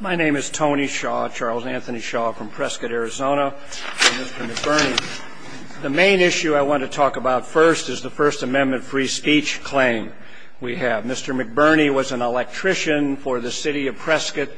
My name is Tony Shaw, Charles Anthony Shaw from Prescott, Arizona, for Mr. McBurnie. The main issue I want to talk about first is the First Amendment free speech claim we have. Mr. McBurnie was an electrician for the City of Prescott.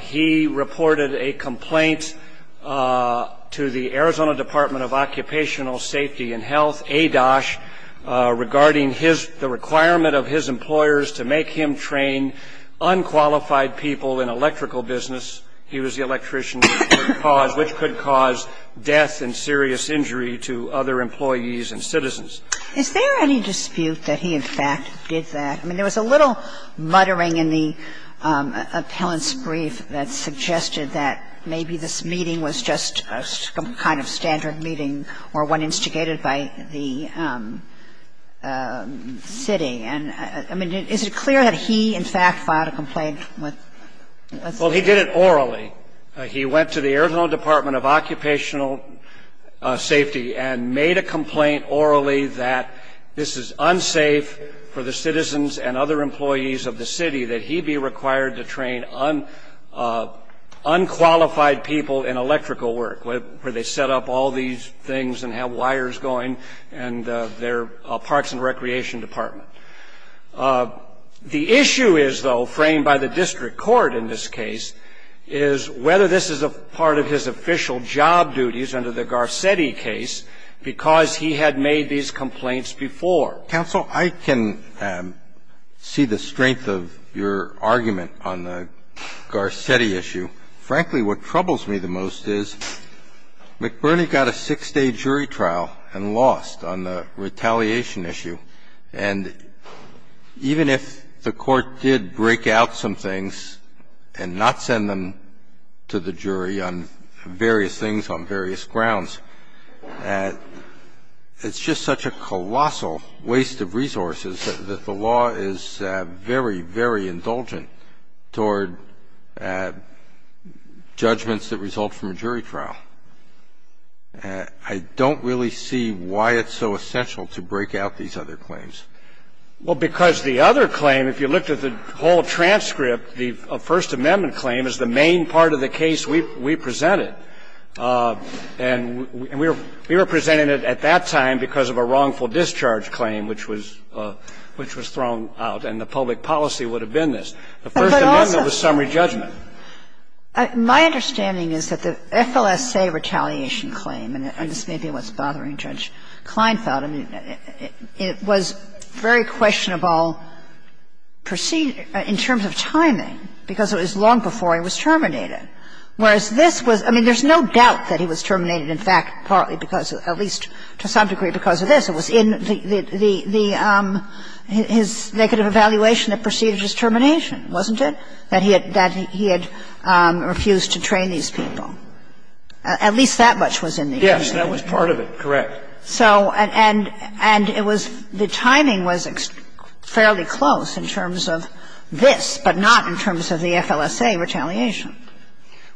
He reported a complaint to the Arizona Department of Occupational Safety and Health, ADOSH, regarding the requirement of his employers to make him train unqualified people in electrical business. He was the electrician for a cause which could cause death and serious injury to other employees and citizens. Is there any dispute that he, in fact, did that? I mean, there was a little muttering in the appellant's brief that suggested that maybe this meeting was just some kind of standard meeting or one instigated by the city. And, I mean, is it clear that he, in fact, filed a complaint with the city? Well, he did it orally. He went to the Arizona Department of Occupational Safety and made a complaint orally that this is unsafe for the citizens and other employees of the city that he be required to train unqualified people in electrical work, where they set up all these things and have wires going, and their parks and recreation department. The issue is, though, framed by the district court in this case, is whether this is a part of his official job duties under the Garcetti case, because he had made these complaints before. Counsel, I can see the strength of your argument on the Garcetti issue. Frankly, what troubles me the most is McBurney got a six-day jury trial and lost on the retaliation issue. And even if the court did break out some things and not send them to the jury on various things on various grounds, it's just such a colossal waste of resources that the law is very, very indulgent toward judgments that result from a jury trial. I don't really see why it's so essential to break out these other claims. Well, because the other claim, if you looked at the whole transcript, the First Amendment claim is the main part of the case we presented. And we were presenting it at that time because of a wrongful discharge claim, which was thrown out, and the public policy would have been this. The First Amendment was summary judgment. But also, my understanding is that the FLSA retaliation claim, and this may be what's bothering Judge Kleinfeld, I mean, it was very questionable in terms of timing, because it was long before he was terminated. Whereas this was — I mean, there's no doubt that he was terminated, in fact, partly because of — at least to some degree because of this. It was in the — his negative evaluation that preceded his termination, wasn't it, that he had — that he had refused to train these people? At least that much was in the agreement. Yes. That was part of it. Correct. So — and it was — the timing was fairly close in terms of this, but not in terms of the FLSA retaliation.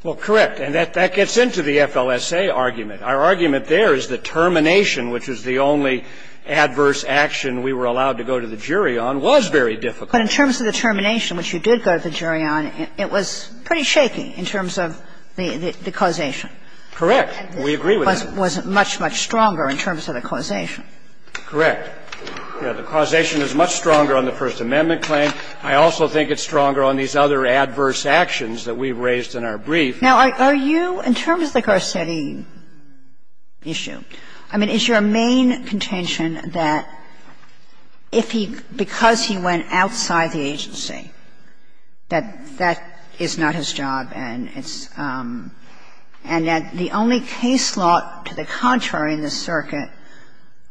Well, correct. And that gets into the FLSA argument. Our argument there is the termination, which was the only adverse action we were allowed to go to the jury on, was very difficult. But in terms of the termination, which you did go to the jury on, it was pretty shaky in terms of the causation. Correct. We agree with that. It wasn't much, much stronger in terms of the causation. Correct. The causation is much stronger on the First Amendment claim. I also think it's stronger on these other adverse actions that we've raised in our brief. Now, are you — in terms of the Garcetti issue, I mean, is your main contention that if he — because he went outside the agency, that that is not his job and it's — and that the only case law to the contrary in this circuit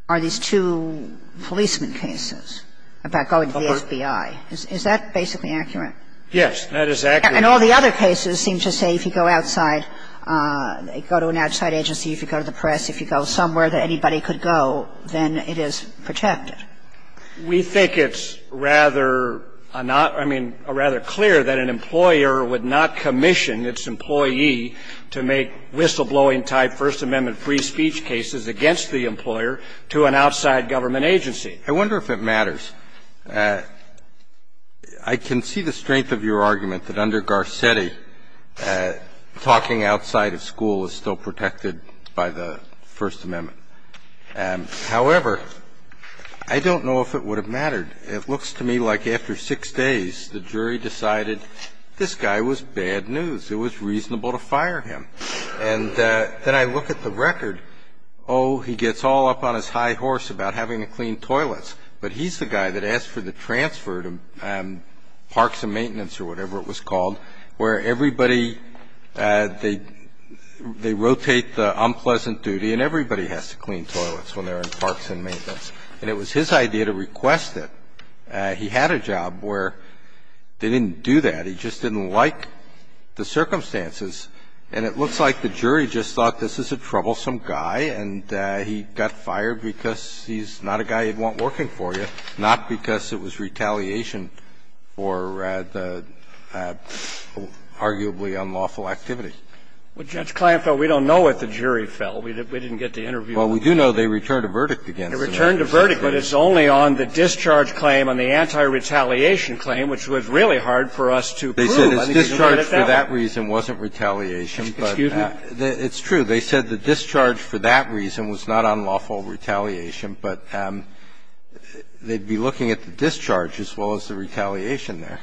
are these two policeman cases about going to the FBI. Is that basically accurate? Yes, that is accurate. And all the other cases seem to say if you go outside, go to an outside agency, if you go to the press, if you go somewhere that anybody could go, then it is protected. We think it's rather not — I mean, rather clear that an employer would not commission its employee to make whistleblowing-type First Amendment free speech cases against the employer to an outside government agency. I wonder if it matters. I can see the strength of your argument that under Garcetti, talking outside of school is still protected by the First Amendment. However, I don't know if it would have mattered. It looks to me like after six days, the jury decided this guy was bad news. It was reasonable to fire him. And then I look at the record. Oh, he gets all up on his high horse about having to clean toilets. But he's the guy that asked for the transfer to parks and maintenance or whatever it was called, where everybody — they rotate the unpleasant duty and everybody has to clean toilets when they're in parks and maintenance. And it was his idea to request it. He had a job where they didn't do that. He just didn't like the circumstances. And it looks like the jury just thought this is a troublesome guy and he got fired because he's not a guy you'd want working for you, not because it was retaliation for arguably unlawful activity. Well, Judge Kleinfeld, we don't know what the jury felt. We didn't get the interview. Well, we do know they returned a verdict against him. They returned a verdict, but it's only on the discharge claim, on the anti-retaliation claim, which was really hard for us to prove. They said his discharge for that reason wasn't retaliation, but it's true. They said the discharge for that reason was not unlawful retaliation, but they'd be looking at the discharge as well as the retaliation there.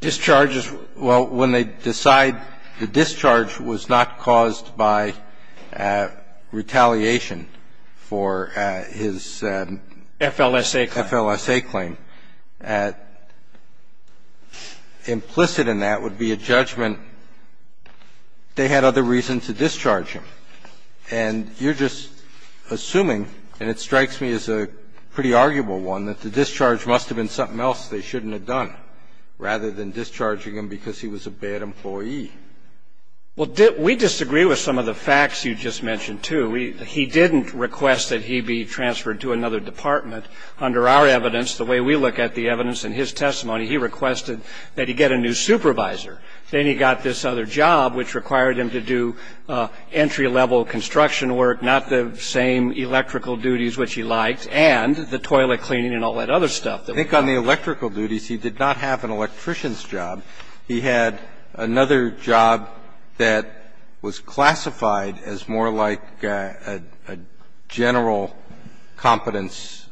Discharge is — well, when they decide the discharge was not caused by retaliation for his FLSA claim, implicit in that would be a judgment they had other reason to discharge him. And you're just assuming, and it strikes me as a pretty arguable one, that the discharge must have been something else they shouldn't have done rather than discharging him because he was a bad employee. Well, we disagree with some of the facts you just mentioned, too. He didn't request that he be transferred to another department. Under our evidence, the way we look at the evidence in his testimony, he requested that he get a new supervisor. Then he got this other job, which required him to do entry-level construction work, not the same electrical duties which he liked, and the toilet cleaning and all that other stuff that we talked about. I think on the electrical duties, he did not have an electrician's job. He had another job that was classified as more like a general competence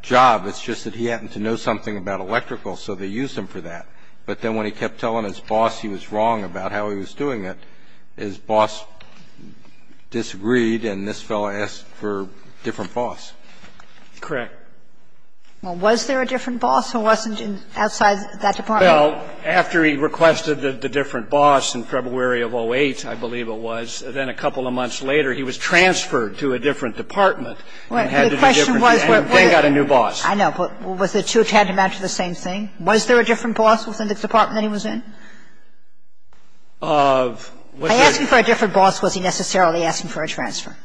job. It's just that he happened to know something about electrical, so they used him for that. But then when he kept telling his boss he was wrong about how he was doing it, his boss disagreed, and this fellow asked for a different boss. Correct. Well, was there a different boss who wasn't outside that department? Well, after he requested the different boss in February of 08, I believe it was, then a couple of months later, he was transferred to a different department and had to do different things, and then got a new boss. I know. But was it too tantamount to the same thing? Was there a different boss within the department that he was in? Of what? By asking for a different boss, was he necessarily asking for a transfer?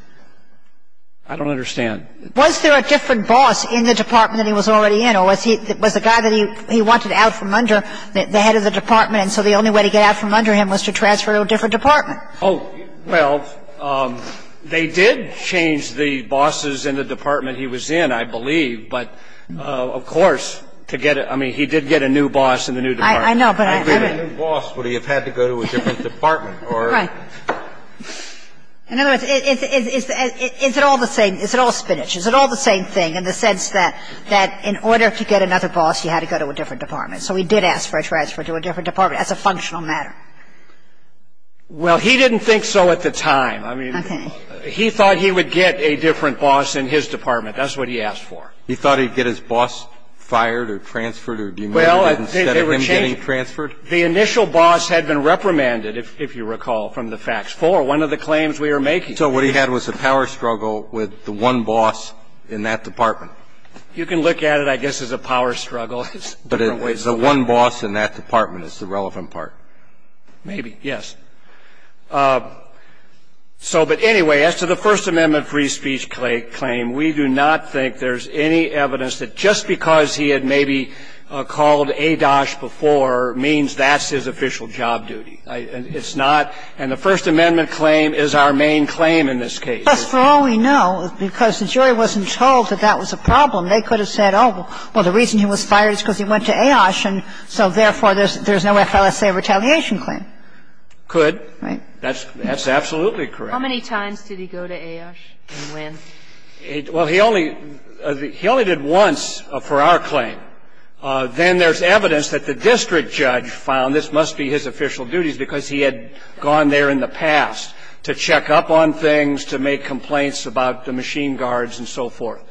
I don't understand. Was there a different boss in the department that he was already in, or was he the guy that he wanted out from under, the head of the department, and so the only way to get out from under him was to transfer to a different department? Oh, well, they did change the bosses in the department he was in, I believe. But, of course, to get a new boss in the new department. I know, but I don't know. How did a new boss, would he have had to go to a different department? Right. In other words, is it all the same? Is it all spinach? Is it all the same thing in the sense that in order to get another boss, you had to go to a different department? So he did ask for a transfer to a different department as a functional matter. Well, he didn't think so at the time. I mean, he thought he would get a different boss in his department. That's what he asked for. He thought he'd get his boss fired or transferred or demoted instead of him getting transferred? The initial boss had been reprimanded, if you recall, from the FACTS IV, one of the claims we were making. So what he had was a power struggle with the one boss in that department. You can look at it, I guess, as a power struggle. But the one boss in that department is the relevant part. Maybe, yes. So, but anyway, as to the First Amendment free speech claim, we do not think there's any evidence that just because he had maybe called ADOSH before means that's his official job duty. It's not. And the First Amendment claim is our main claim in this case. But for all we know, because the jury wasn't told that that was a problem, they could have said, oh, well, the reason he was fired is because he went to AOSH, and so therefore there's no FLSA retaliation claim. Could. Right. That's absolutely correct. How many times did he go to AOSH and when? Well, he only did once for our claim. Then there's evidence that the district judge found this must be his official duties because he had gone there in the past to check up on things, to make complaints about the machine guards and so forth.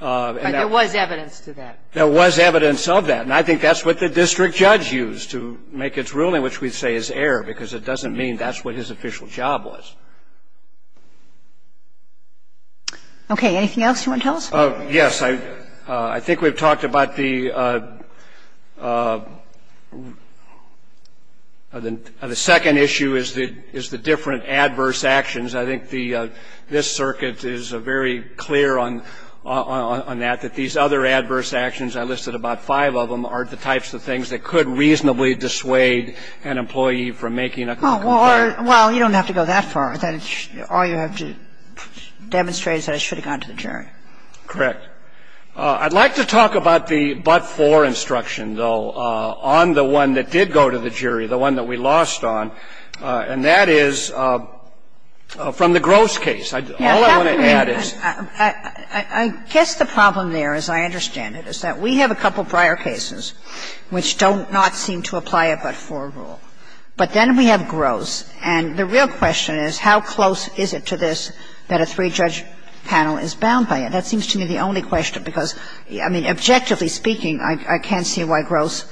But there was evidence to that. There was evidence of that. And I think that's what the district judge used to make its ruling, which we'd say is error, because it doesn't mean that's what his official job was. Okay. Anything else you want to tell us? Yes. I think we've talked about the second issue is the different adverse actions. I think this circuit is very clear on that, that these other adverse actions, I listed about five of them, are the types of things that could reasonably dissuade an employee from making a complaint. Well, you don't have to go that far. All you have to demonstrate is that he should have gone to the jury. Correct. I'd like to talk about the but-for instruction, though, on the one that did go to the jury, the one that we lost on, and that is from the Gross case. All I want to add is that we have a couple prior cases which don't not seem to apply a but-for rule, but then we have Gross, and the real question is how close is it to this that a three-judge panel is bound by it? That seems to me the only question, because, I mean, objectively speaking, I can't see why Gross,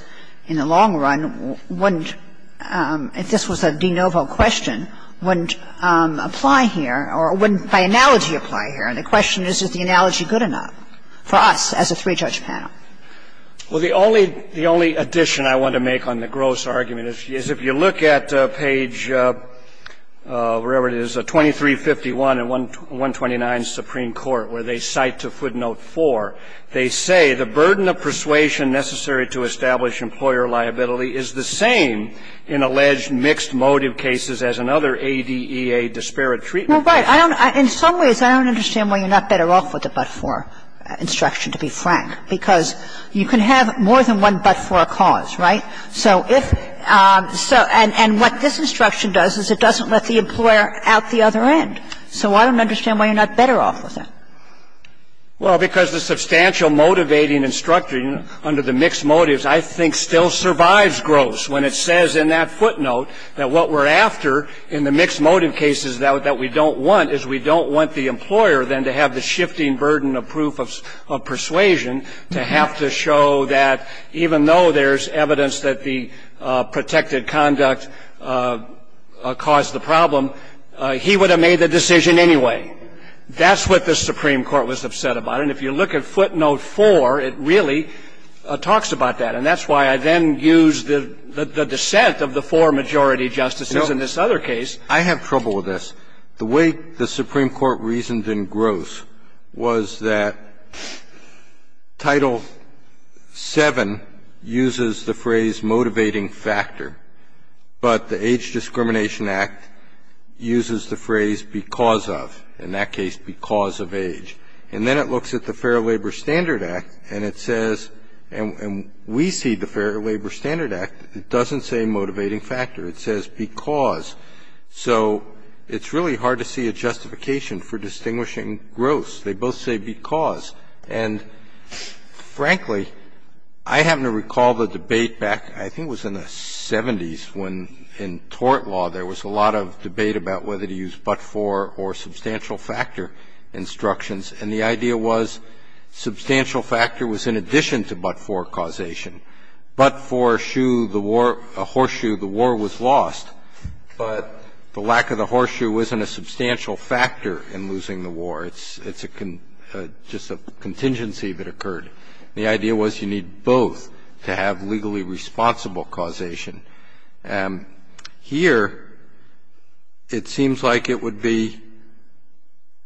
in the long run, wouldn't, if this was a de novo question, wouldn't apply here, or wouldn't by analogy apply here. And the question is, is the analogy good enough for us as a three-judge panel? Well, the only addition I want to make on the Gross argument is if you look at page 2351 in 129 of the Supreme Court, where they cite to footnote 4, they say, the burden of persuasion necessary to establish employer liability is the same in alleged mixed motive cases as in other ADEA disparate treatment cases. Well, right. In some ways, I don't understand why you're not better off with the but-for instruction, to be frank, because you can have more than one but-for cause, right? So if so, and what this instruction does is it doesn't let the employer out the other end. So I don't understand why you're not better off with it. Well, because the substantial motivating instruction under the mixed motives, I think, still survives Gross, when it says in that footnote that what we're after in the mixed motive cases that we don't want is we don't want the employer, then, to have the shifting burden of proof of persuasion, to have to show that even though there's evidence that the protected conduct caused the problem, he would have made the decision anyway. That's what the Supreme Court was upset about. And if you look at footnote 4, it really talks about that. And that's why I then use the dissent of the four majority justices in this other case. I have trouble with this. The way the Supreme Court reasoned in Gross was that Title VII uses the phrase motivating factor, but the Age Discrimination Act uses the phrase because of, in that case, because of age. And then it looks at the Fair Labor Standard Act, and it says, and we see the Fair Labor Standard Act, it doesn't say motivating factor. It says because. So it's really hard to see a justification for distinguishing Gross. They both say because. And, frankly, I happen to recall the debate back, I think it was in the 70s, when in tort law there was a lot of debate about whether to use but-for or substantial factor instructions. And the idea was substantial factor was in addition to but-for causation. But for shoe the war or horseshoe, the war was lost. But the lack of the horseshoe wasn't a substantial factor in losing the war. It's a con – just a contingency that occurred. And the idea was you need both to have legally responsible causation. Here it seems like it would be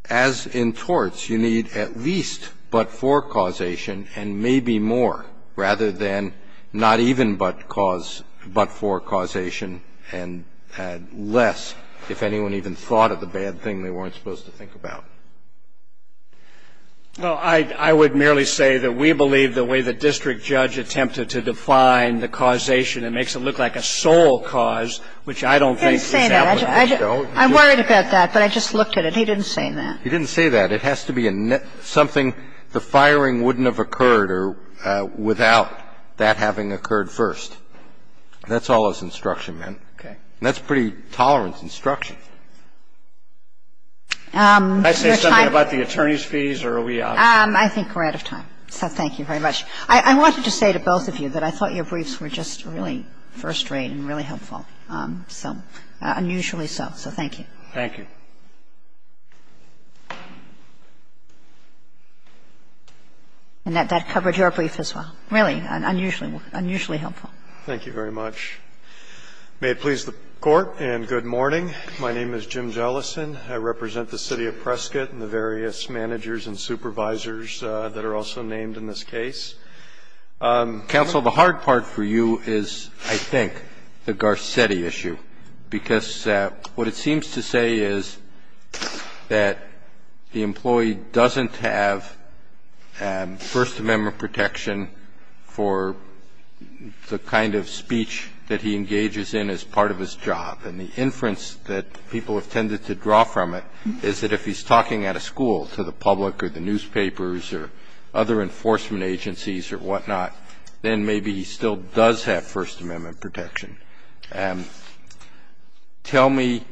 as in torts, you need at least but-for causation and maybe more, rather than not even but-for causation and less, if anyone even thought of the bad thing they weren't supposed to think about. Well, I would merely say that we believe the way the district judge attempted to define the causation, it makes it look like a sole cause, which I don't think is applicable. I'm worried about that, but I just looked at it. He didn't say that. He didn't say that. It has to be something the firing wouldn't have occurred without that having occurred first. That's all his instruction meant. Okay. And that's pretty tolerant instruction. Can I say something about the attorney's fees or are we out of time? I think we're out of time, so thank you very much. I wanted to say to both of you that I thought your briefs were just really first rate and really helpful, so unusually so, so thank you. Thank you. And that covered your brief as well. Really unusually helpful. Thank you very much. May it please the Court, and good morning. My name is Jim Jellison. I represent the City of Prescott and the various managers and supervisors that are also named in this case. Counsel, the hard part for you is, I think, the Garcetti issue, because what it seems to say is that the employee doesn't have First Amendment protection for the kind of speech that he engages in as part of his job, and the inference that people have tended to draw from it is that if he's talking at a school to the public or the newspapers or other enforcement agencies or whatnot, then maybe he still does have First Amendment protection. Tell me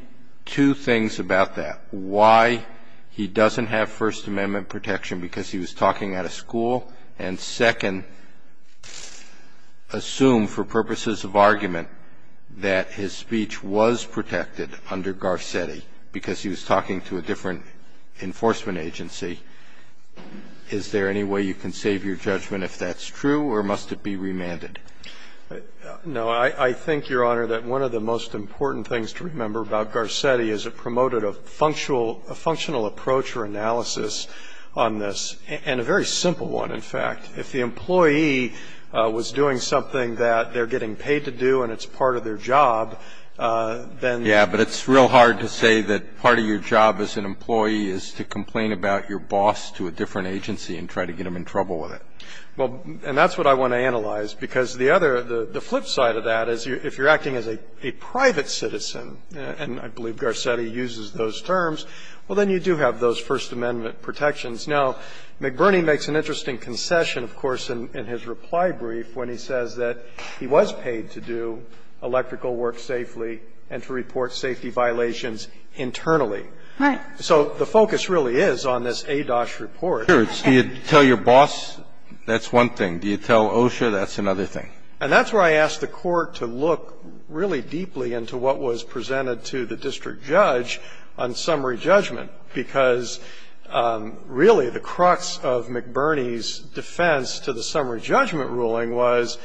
two things about that. Why he doesn't have First Amendment protection because he was talking at a school, and second, assume for purposes of argument that his speech was protected under Garcetti because he was talking to a different enforcement agency. Is there any way you can save your judgment if that's true, or must it be remanded? No. I think, Your Honor, that one of the most important things to remember about Garcetti is it promoted a functional approach or analysis on this, and a very simple one, in fact. If the employee was doing something that they're getting paid to do and it's part of their job, then they're not going to be able to do it. Yeah, but it's real hard to say that part of your job as an employee is to complain about your boss to a different agency and try to get them in trouble with it. Well, and that's what I want to analyze, because the other, the flip side of that is if you're acting as a private citizen, and I believe Garcetti uses those terms, well, then you do have those First Amendment protections. Now, McBurney makes an interesting concession, of course, in his reply brief when he says that he was paid to do electrical work safely and to report safety violations internally. Right. So the focus really is on this ADOSH report. So you tell your boss, that's one thing. Do you tell OSHA, that's another thing. And that's where I asked the Court to look really deeply into what was presented to the district judge on summary judgment, because really the crux of McBurney's defense to the summary judgment ruling was,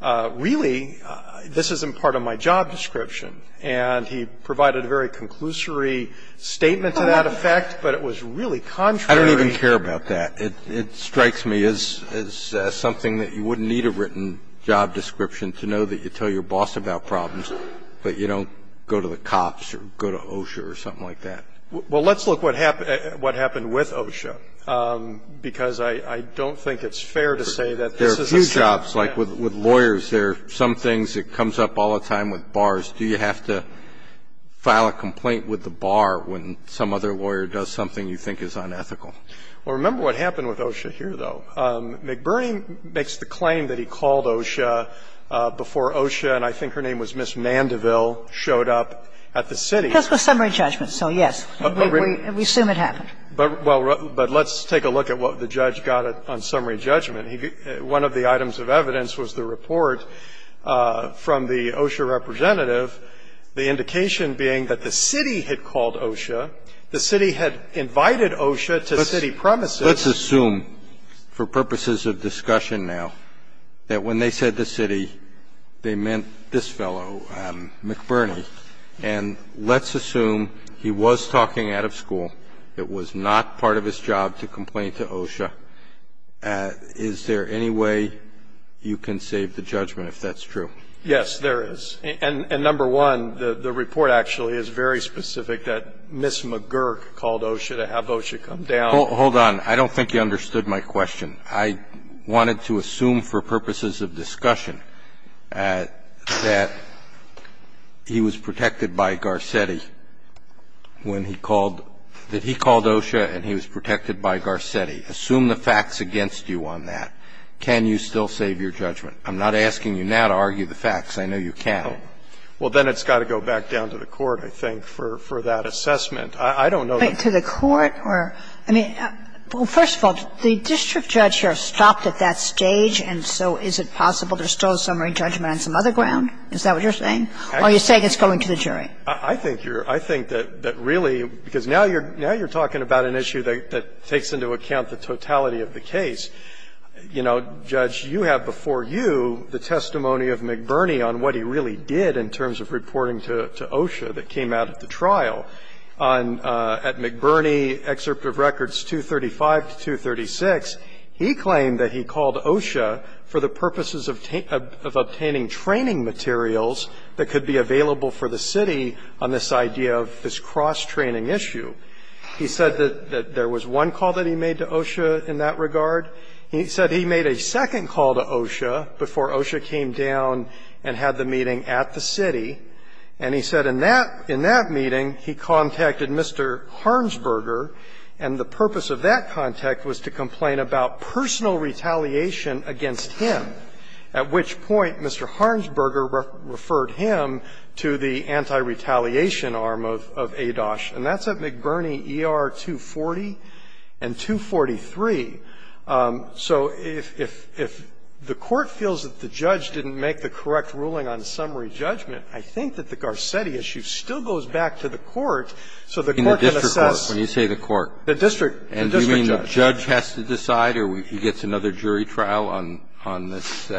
really, this isn't part of my job description. And he provided a very conclusory statement to that effect, but it was really contrary to what he said. And I don't even care about that. It strikes me as something that you wouldn't need a written job description to know that you tell your boss about problems, but you don't go to the cops or go to OSHA or something like that. Well, let's look at what happened with OSHA, because I don't think it's fair to say that this is a set-up. There are a few jobs, like with lawyers, there are some things that comes up all the time with bars. Do you have to file a complaint with the bar when some other lawyer does something you think is unethical? Well, remember what happened with OSHA here, though. McBurney makes the claim that he called OSHA before OSHA, and I think her name was Ms. Mandeville, showed up at the city. Because it was summary judgment, so, yes, we assume it happened. But let's take a look at what the judge got on summary judgment. One of the items of evidence was the report from the OSHA representative, the indication being that the city had called OSHA, the city had invited OSHA to city premises. Let's assume, for purposes of discussion now, that when they said the city, they meant this fellow, McBurney. And let's assume he was talking out of school, it was not part of his job to complain to OSHA. Is there any way you can save the judgment if that's true? Yes, there is. And number one, the report actually is very specific that Ms. McGurk called OSHA to have OSHA come down. Hold on. I don't think you understood my question. I wanted to assume for purposes of discussion that he was protected by Garcetti when he called, that he called OSHA and he was protected by Garcetti. Assume the facts against you on that. Can you still save your judgment? I'm not asking you now to argue the facts. I know you can't. Well, then it's got to go back down to the court, I think, for that assessment. I don't know that's the case. To the court or to the jury? Well, first of all, the district judge here stopped at that stage, and so is it possible there's still summary judgment on some other ground? Is that what you're saying? Or are you saying it's going to the jury? I think you're – I think that really, because now you're talking about an issue that takes into account the totality of the case. You know, Judge, you have before you the testimony of McBurney on what he really did in terms of reporting to OSHA that came out at the trial. On – at McBurney, excerpt of records 235 to 236, he claimed that he called OSHA for the purposes of obtaining training materials that could be available for the city on this idea of this cross-training issue. He said that there was one call that he made to OSHA in that regard. He said he made a second call to OSHA before OSHA came down and had the meeting at the city. And he said in that – in that meeting, he contacted Mr. Harnsberger, and the purpose of that contact was to complain about personal retaliation against him, at which point Mr. Harnsberger referred him to the anti-retaliation arm of ADOSH. And that's at McBurney ER 240 and 243. So if the Court feels that the judge didn't make the correct ruling on summary judgment, I think that the Garcetti issue still goes back to the Court, so the Court can assess the district judge. So the judge has to decide, or he gets another jury trial on this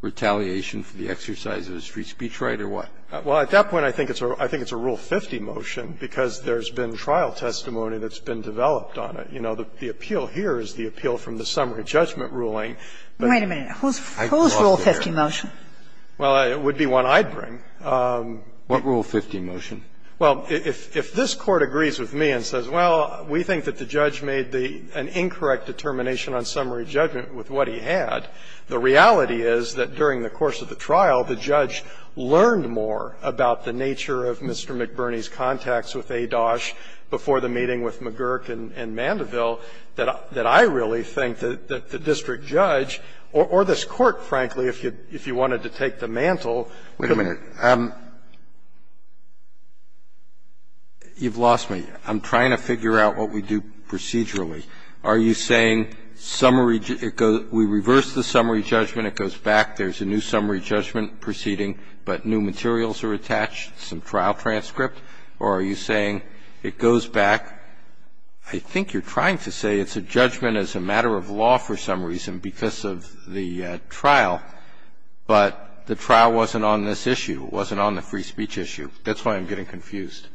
retaliation for the exercise of a street speech right, or what? Well, at that point, I think it's a Rule 50 motion, because there's been trial testimony that's been developed on it. You know, the appeal here is the appeal from the summary judgment ruling. But I lost it there. Wait a minute. Whose Rule 50 motion? Well, it would be one I'd bring. What Rule 50 motion? Well, if this Court agrees with me and says, well, we think that the judge made the an incorrect determination on summary judgment with what he had, the reality is that during the course of the trial, the judge learned more about the nature of Mr. McBurney's contacts with ADOSH before the meeting with McGurk and Mandeville that I really think that the district judge, or this Court, frankly, if you wanted to take the mantle, could have done better. You've lost me. I'm trying to figure out what we do procedurally. Are you saying summary we reverse the summary judgment, it goes back, there's a new summary judgment proceeding, but new materials are attached, some trial transcript, or are you saying it goes back? I think you're trying to say it's a judgment as a matter of law for some reason because of the trial, but the trial wasn't on this issue, it wasn't on the free speech issue. That's why I'm getting confused.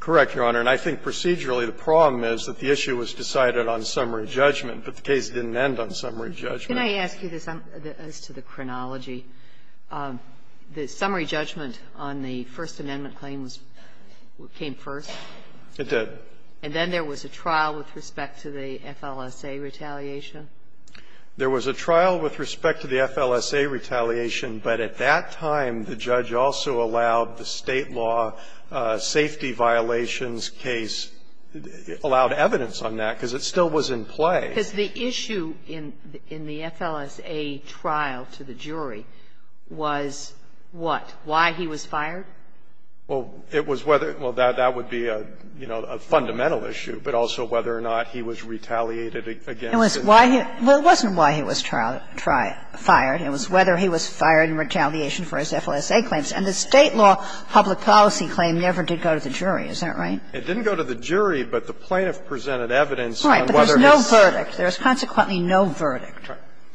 Correct, Your Honor. And I think procedurally the problem is that the issue was decided on summary judgment, but the case didn't end on summary judgment. Can I ask you this as to the chronology? The summary judgment on the First Amendment claims came first? It did. And then there was a trial with respect to the FLSA retaliation? There was a trial with respect to the FLSA retaliation, but at that time the judge also allowed the State law safety violations case, allowed evidence on that, because it still was in play. Because the issue in the FLSA trial to the jury was what? Why he was fired? Well, it was whether or not that would be a, you know, a fundamental issue, but also whether or not he was retaliated against. It wasn't why he was fired, it was whether he was fired in retaliation for his FLSA safety claims. And the State law public policy claim never did go to the jury. Is that right? It didn't go to the jury, but the plaintiff presented evidence on whether his ---- Right, but there's no verdict. There is consequently no verdict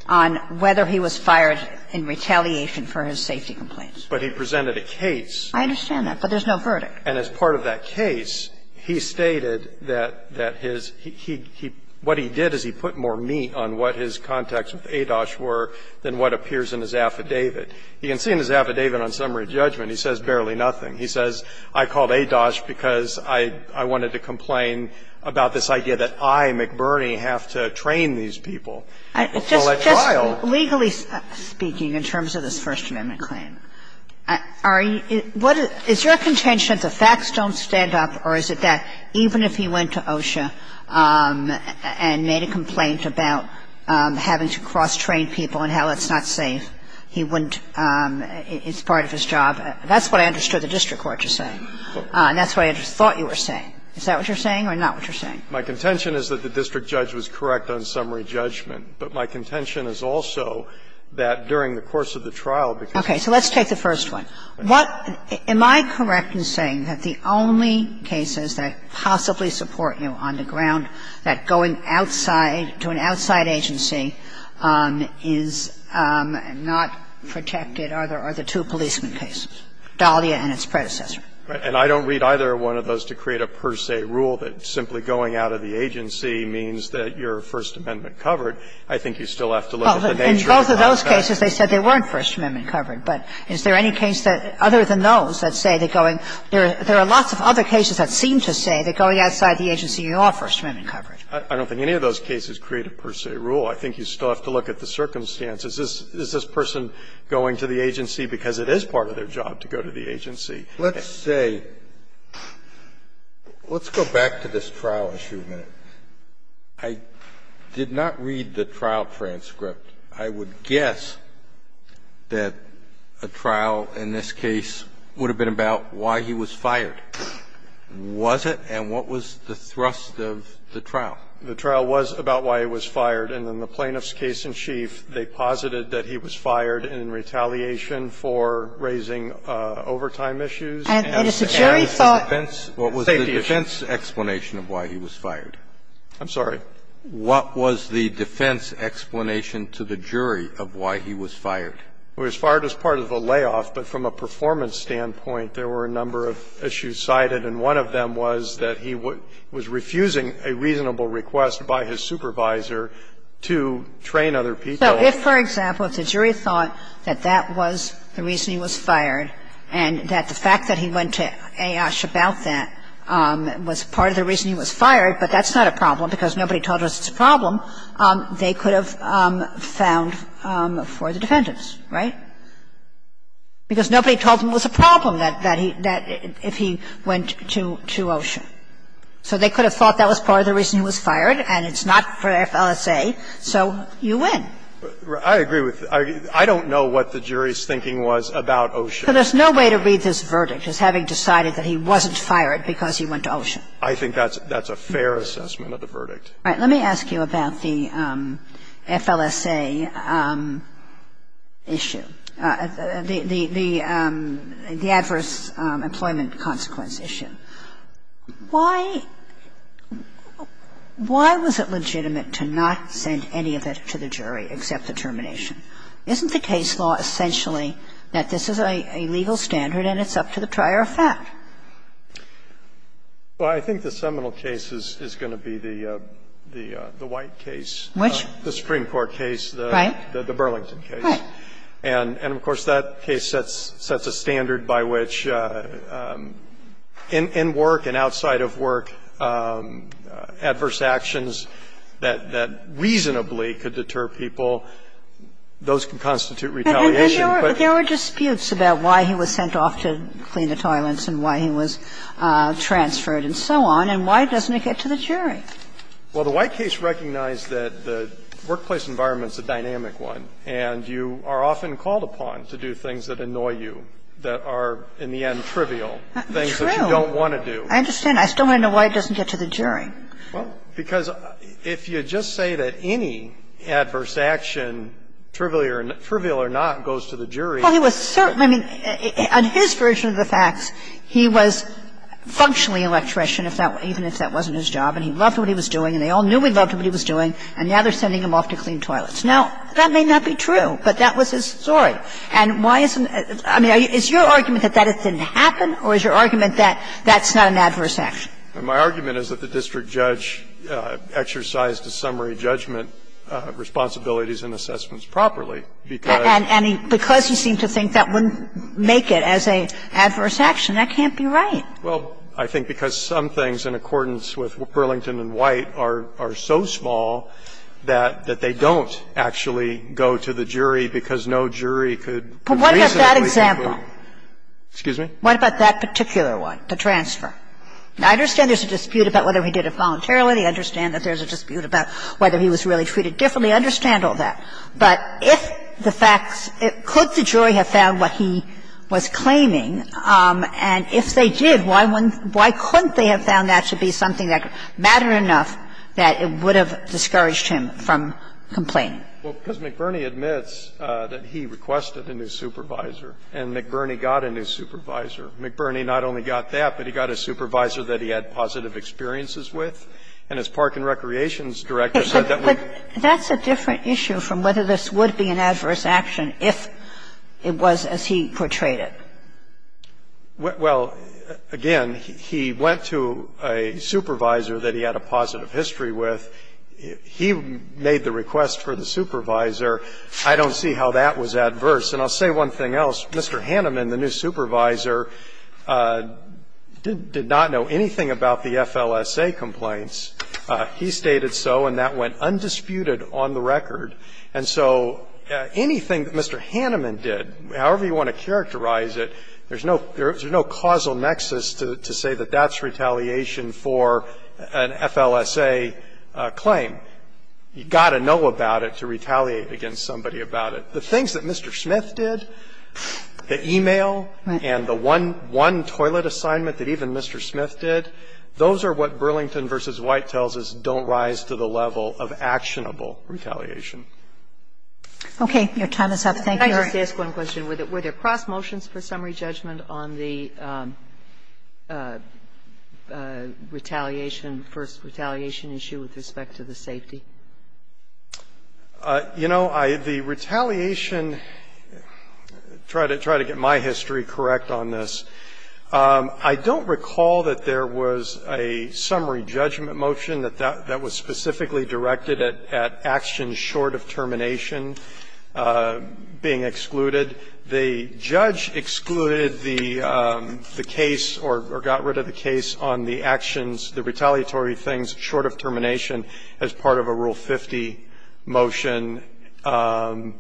on whether he was fired in retaliation for his safety complaints. But he presented a case. I understand that, but there's no verdict. And as part of that case, he stated that his he he he what he did is he put more meat on what his contacts with ADOSH were than what appears in his affidavit. He can see in his affidavit on summary judgment, he says barely nothing. He says, I called ADOSH because I wanted to complain about this idea that I, McBurney, have to train these people. It's all a trial. Just legally speaking, in terms of this First Amendment claim, are you what is your contention that the facts don't stand up, or is it that even if he went to OSHA and made a complaint about having to cross-train people and how it's not safe, he wouldn't, it's part of his job? That's what I understood the district court to say. And that's what I thought you were saying. Is that what you're saying or not what you're saying? My contention is that the district judge was correct on summary judgment. But my contention is also that during the course of the trial, because Okay. So let's take the first one. What am I correct in saying that the only cases that possibly support you on the ground that going outside, to an outside agency, is not protected are the two policeman cases, Dahlia and its predecessor? And I don't read either one of those to create a per se rule that simply going out of the agency means that you're First Amendment covered. I think you still have to look at the nature of the fact that In both of those cases, they said they weren't First Amendment covered. But is there any case that, other than those, that say that going – there are lots of other cases that seem to say that going outside the agency, you are First Amendment covered. I don't think any of those cases create a per se rule. I think you still have to look at the circumstances. Is this person going to the agency because it is part of their job to go to the agency? Let's say – let's go back to this trial issue a minute. I did not read the trial transcript. I would guess that a trial in this case would have been about why he was fired. Was it? And what was the thrust of the trial? The trial was about why he was fired. And in the plaintiff's case in chief, they posited that he was fired in retaliation for raising overtime issues. And as a defense, what was the defense explanation of why he was fired? I'm sorry? What was the defense explanation to the jury of why he was fired? He was fired as part of a layoff, but from a performance standpoint, there were a number of issues cited, and one of them was that he was refusing a reasonable request by his supervisor to train other people. So if, for example, if the jury thought that that was the reason he was fired and that the fact that he went to A.I.S.H. about that was part of the reason he was fired, but that's not a problem because nobody told us it's a problem, they could have found for the defendants, right? Because nobody told them it was a problem that he – that if he went to – to OSHA. So they could have thought that was part of the reason he was fired, and it's not for FLSA, so you win. I agree with – I don't know what the jury's thinking was about OSHA. So there's no way to read this verdict as having decided that he wasn't fired because he went to OSHA. I think that's a fair assessment of the verdict. All right. Let me ask you about the FLSA issue. The adverse employment consequence issue. Why was it legitimate to not send any of it to the jury except the termination? Isn't the case law essentially that this is a legal standard and it's up to the trier of fact? Well, I think the seminal case is going to be the white case. Which? The Supreme Court case. Right. The Burlington case. Right. And of course, that case sets a standard by which, in work and outside of work, adverse actions that reasonably could deter people, those can constitute retaliation. But there were disputes about why he was sent off to clean the toilets and why he was transferred and so on. And why doesn't it get to the jury? Well, the white case recognized that the workplace environment's a dynamic one. And you are often called upon to do things that annoy you, that are, in the end, trivial, things that you don't want to do. True. I understand. I still want to know why it doesn't get to the jury. Well, because if you just say that any adverse action, trivial or not, goes to the jury. Well, he was certainly – I mean, on his version of the facts, he was functionally an electrician, even if that wasn't his job, and he loved what he was doing, and they all knew he loved what he was doing, and now they're sending him off to clean toilets. Now, that may not be true, but that was his story. And why isn't – I mean, is your argument that that didn't happen, or is your argument that that's not an adverse action? My argument is that the district judge exercised a summary judgment of responsibilities and assessments properly, because he seemed to think that wouldn't make it as an adverse action. That can't be right. Well, I think because some things, in accordance with Burlington and White, are so small that they don't actually go to the jury, because no jury could reasonably conclude that. But what about that example? Excuse me? What about that particular one, the transfer? I understand there's a dispute about whether he did it voluntarily. I understand that there's a dispute about whether he was really treated differently. I understand all that. But if the facts – could the jury have found what he was claiming, and if they did, why wouldn't – why couldn't they have found that to be something that mattered enough that it would have discouraged him from complaining? Well, because McBurney admits that he requested a new supervisor, and McBurney got a new supervisor. McBurney not only got that, but he got a supervisor that he had positive experiences with. And his park and recreation director said that would be an adverse action. But that's a different issue from whether this would be an adverse action if it was as he portrayed it. Well, again, he went to a supervisor that he had a positive history with. He made the request for the supervisor. I don't see how that was adverse. And I'll say one thing else. Mr. Hanneman, the new supervisor, did not know anything about the FLSA complaints. He stated so, and that went undisputed on the record. And so anything that Mr. Hanneman did, however you want to characterize it, there's no causal nexus to say that that's retaliation for an FLSA claim. You've got to know about it to retaliate against somebody about it. The things that Mr. Smith did, the e-mail and the one toilet assignment that even Mr. Smith did, those are what Burlington v. White tells us don't rise to the level of actionable retaliation. Okay. Your time is up. Thank you, Your Honor. Can I just ask one question? Were there cross motions for summary judgment on the retaliation, first retaliation issue with respect to the safety? You know, the retaliation – try to get my history correct on this. I don't recall that there was a summary judgment motion that was specifically directed at actions short of termination being excluded. The judge excluded the case or got rid of the case on the actions, the retaliatory things short of termination as part of a Rule 50 motion. And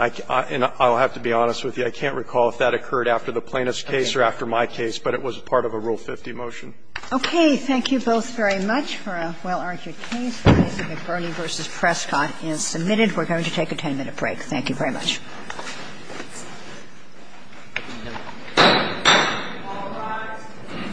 I'll have to be honest with you, I can't recall if that occurred after the plaintiff's case or after my case, but it was part of a Rule 50 motion. Okay. Thank you both very much for a well-argued case. If Ernie v. Prescott is submitted, we're going to take a 10-minute break. Thank you very much.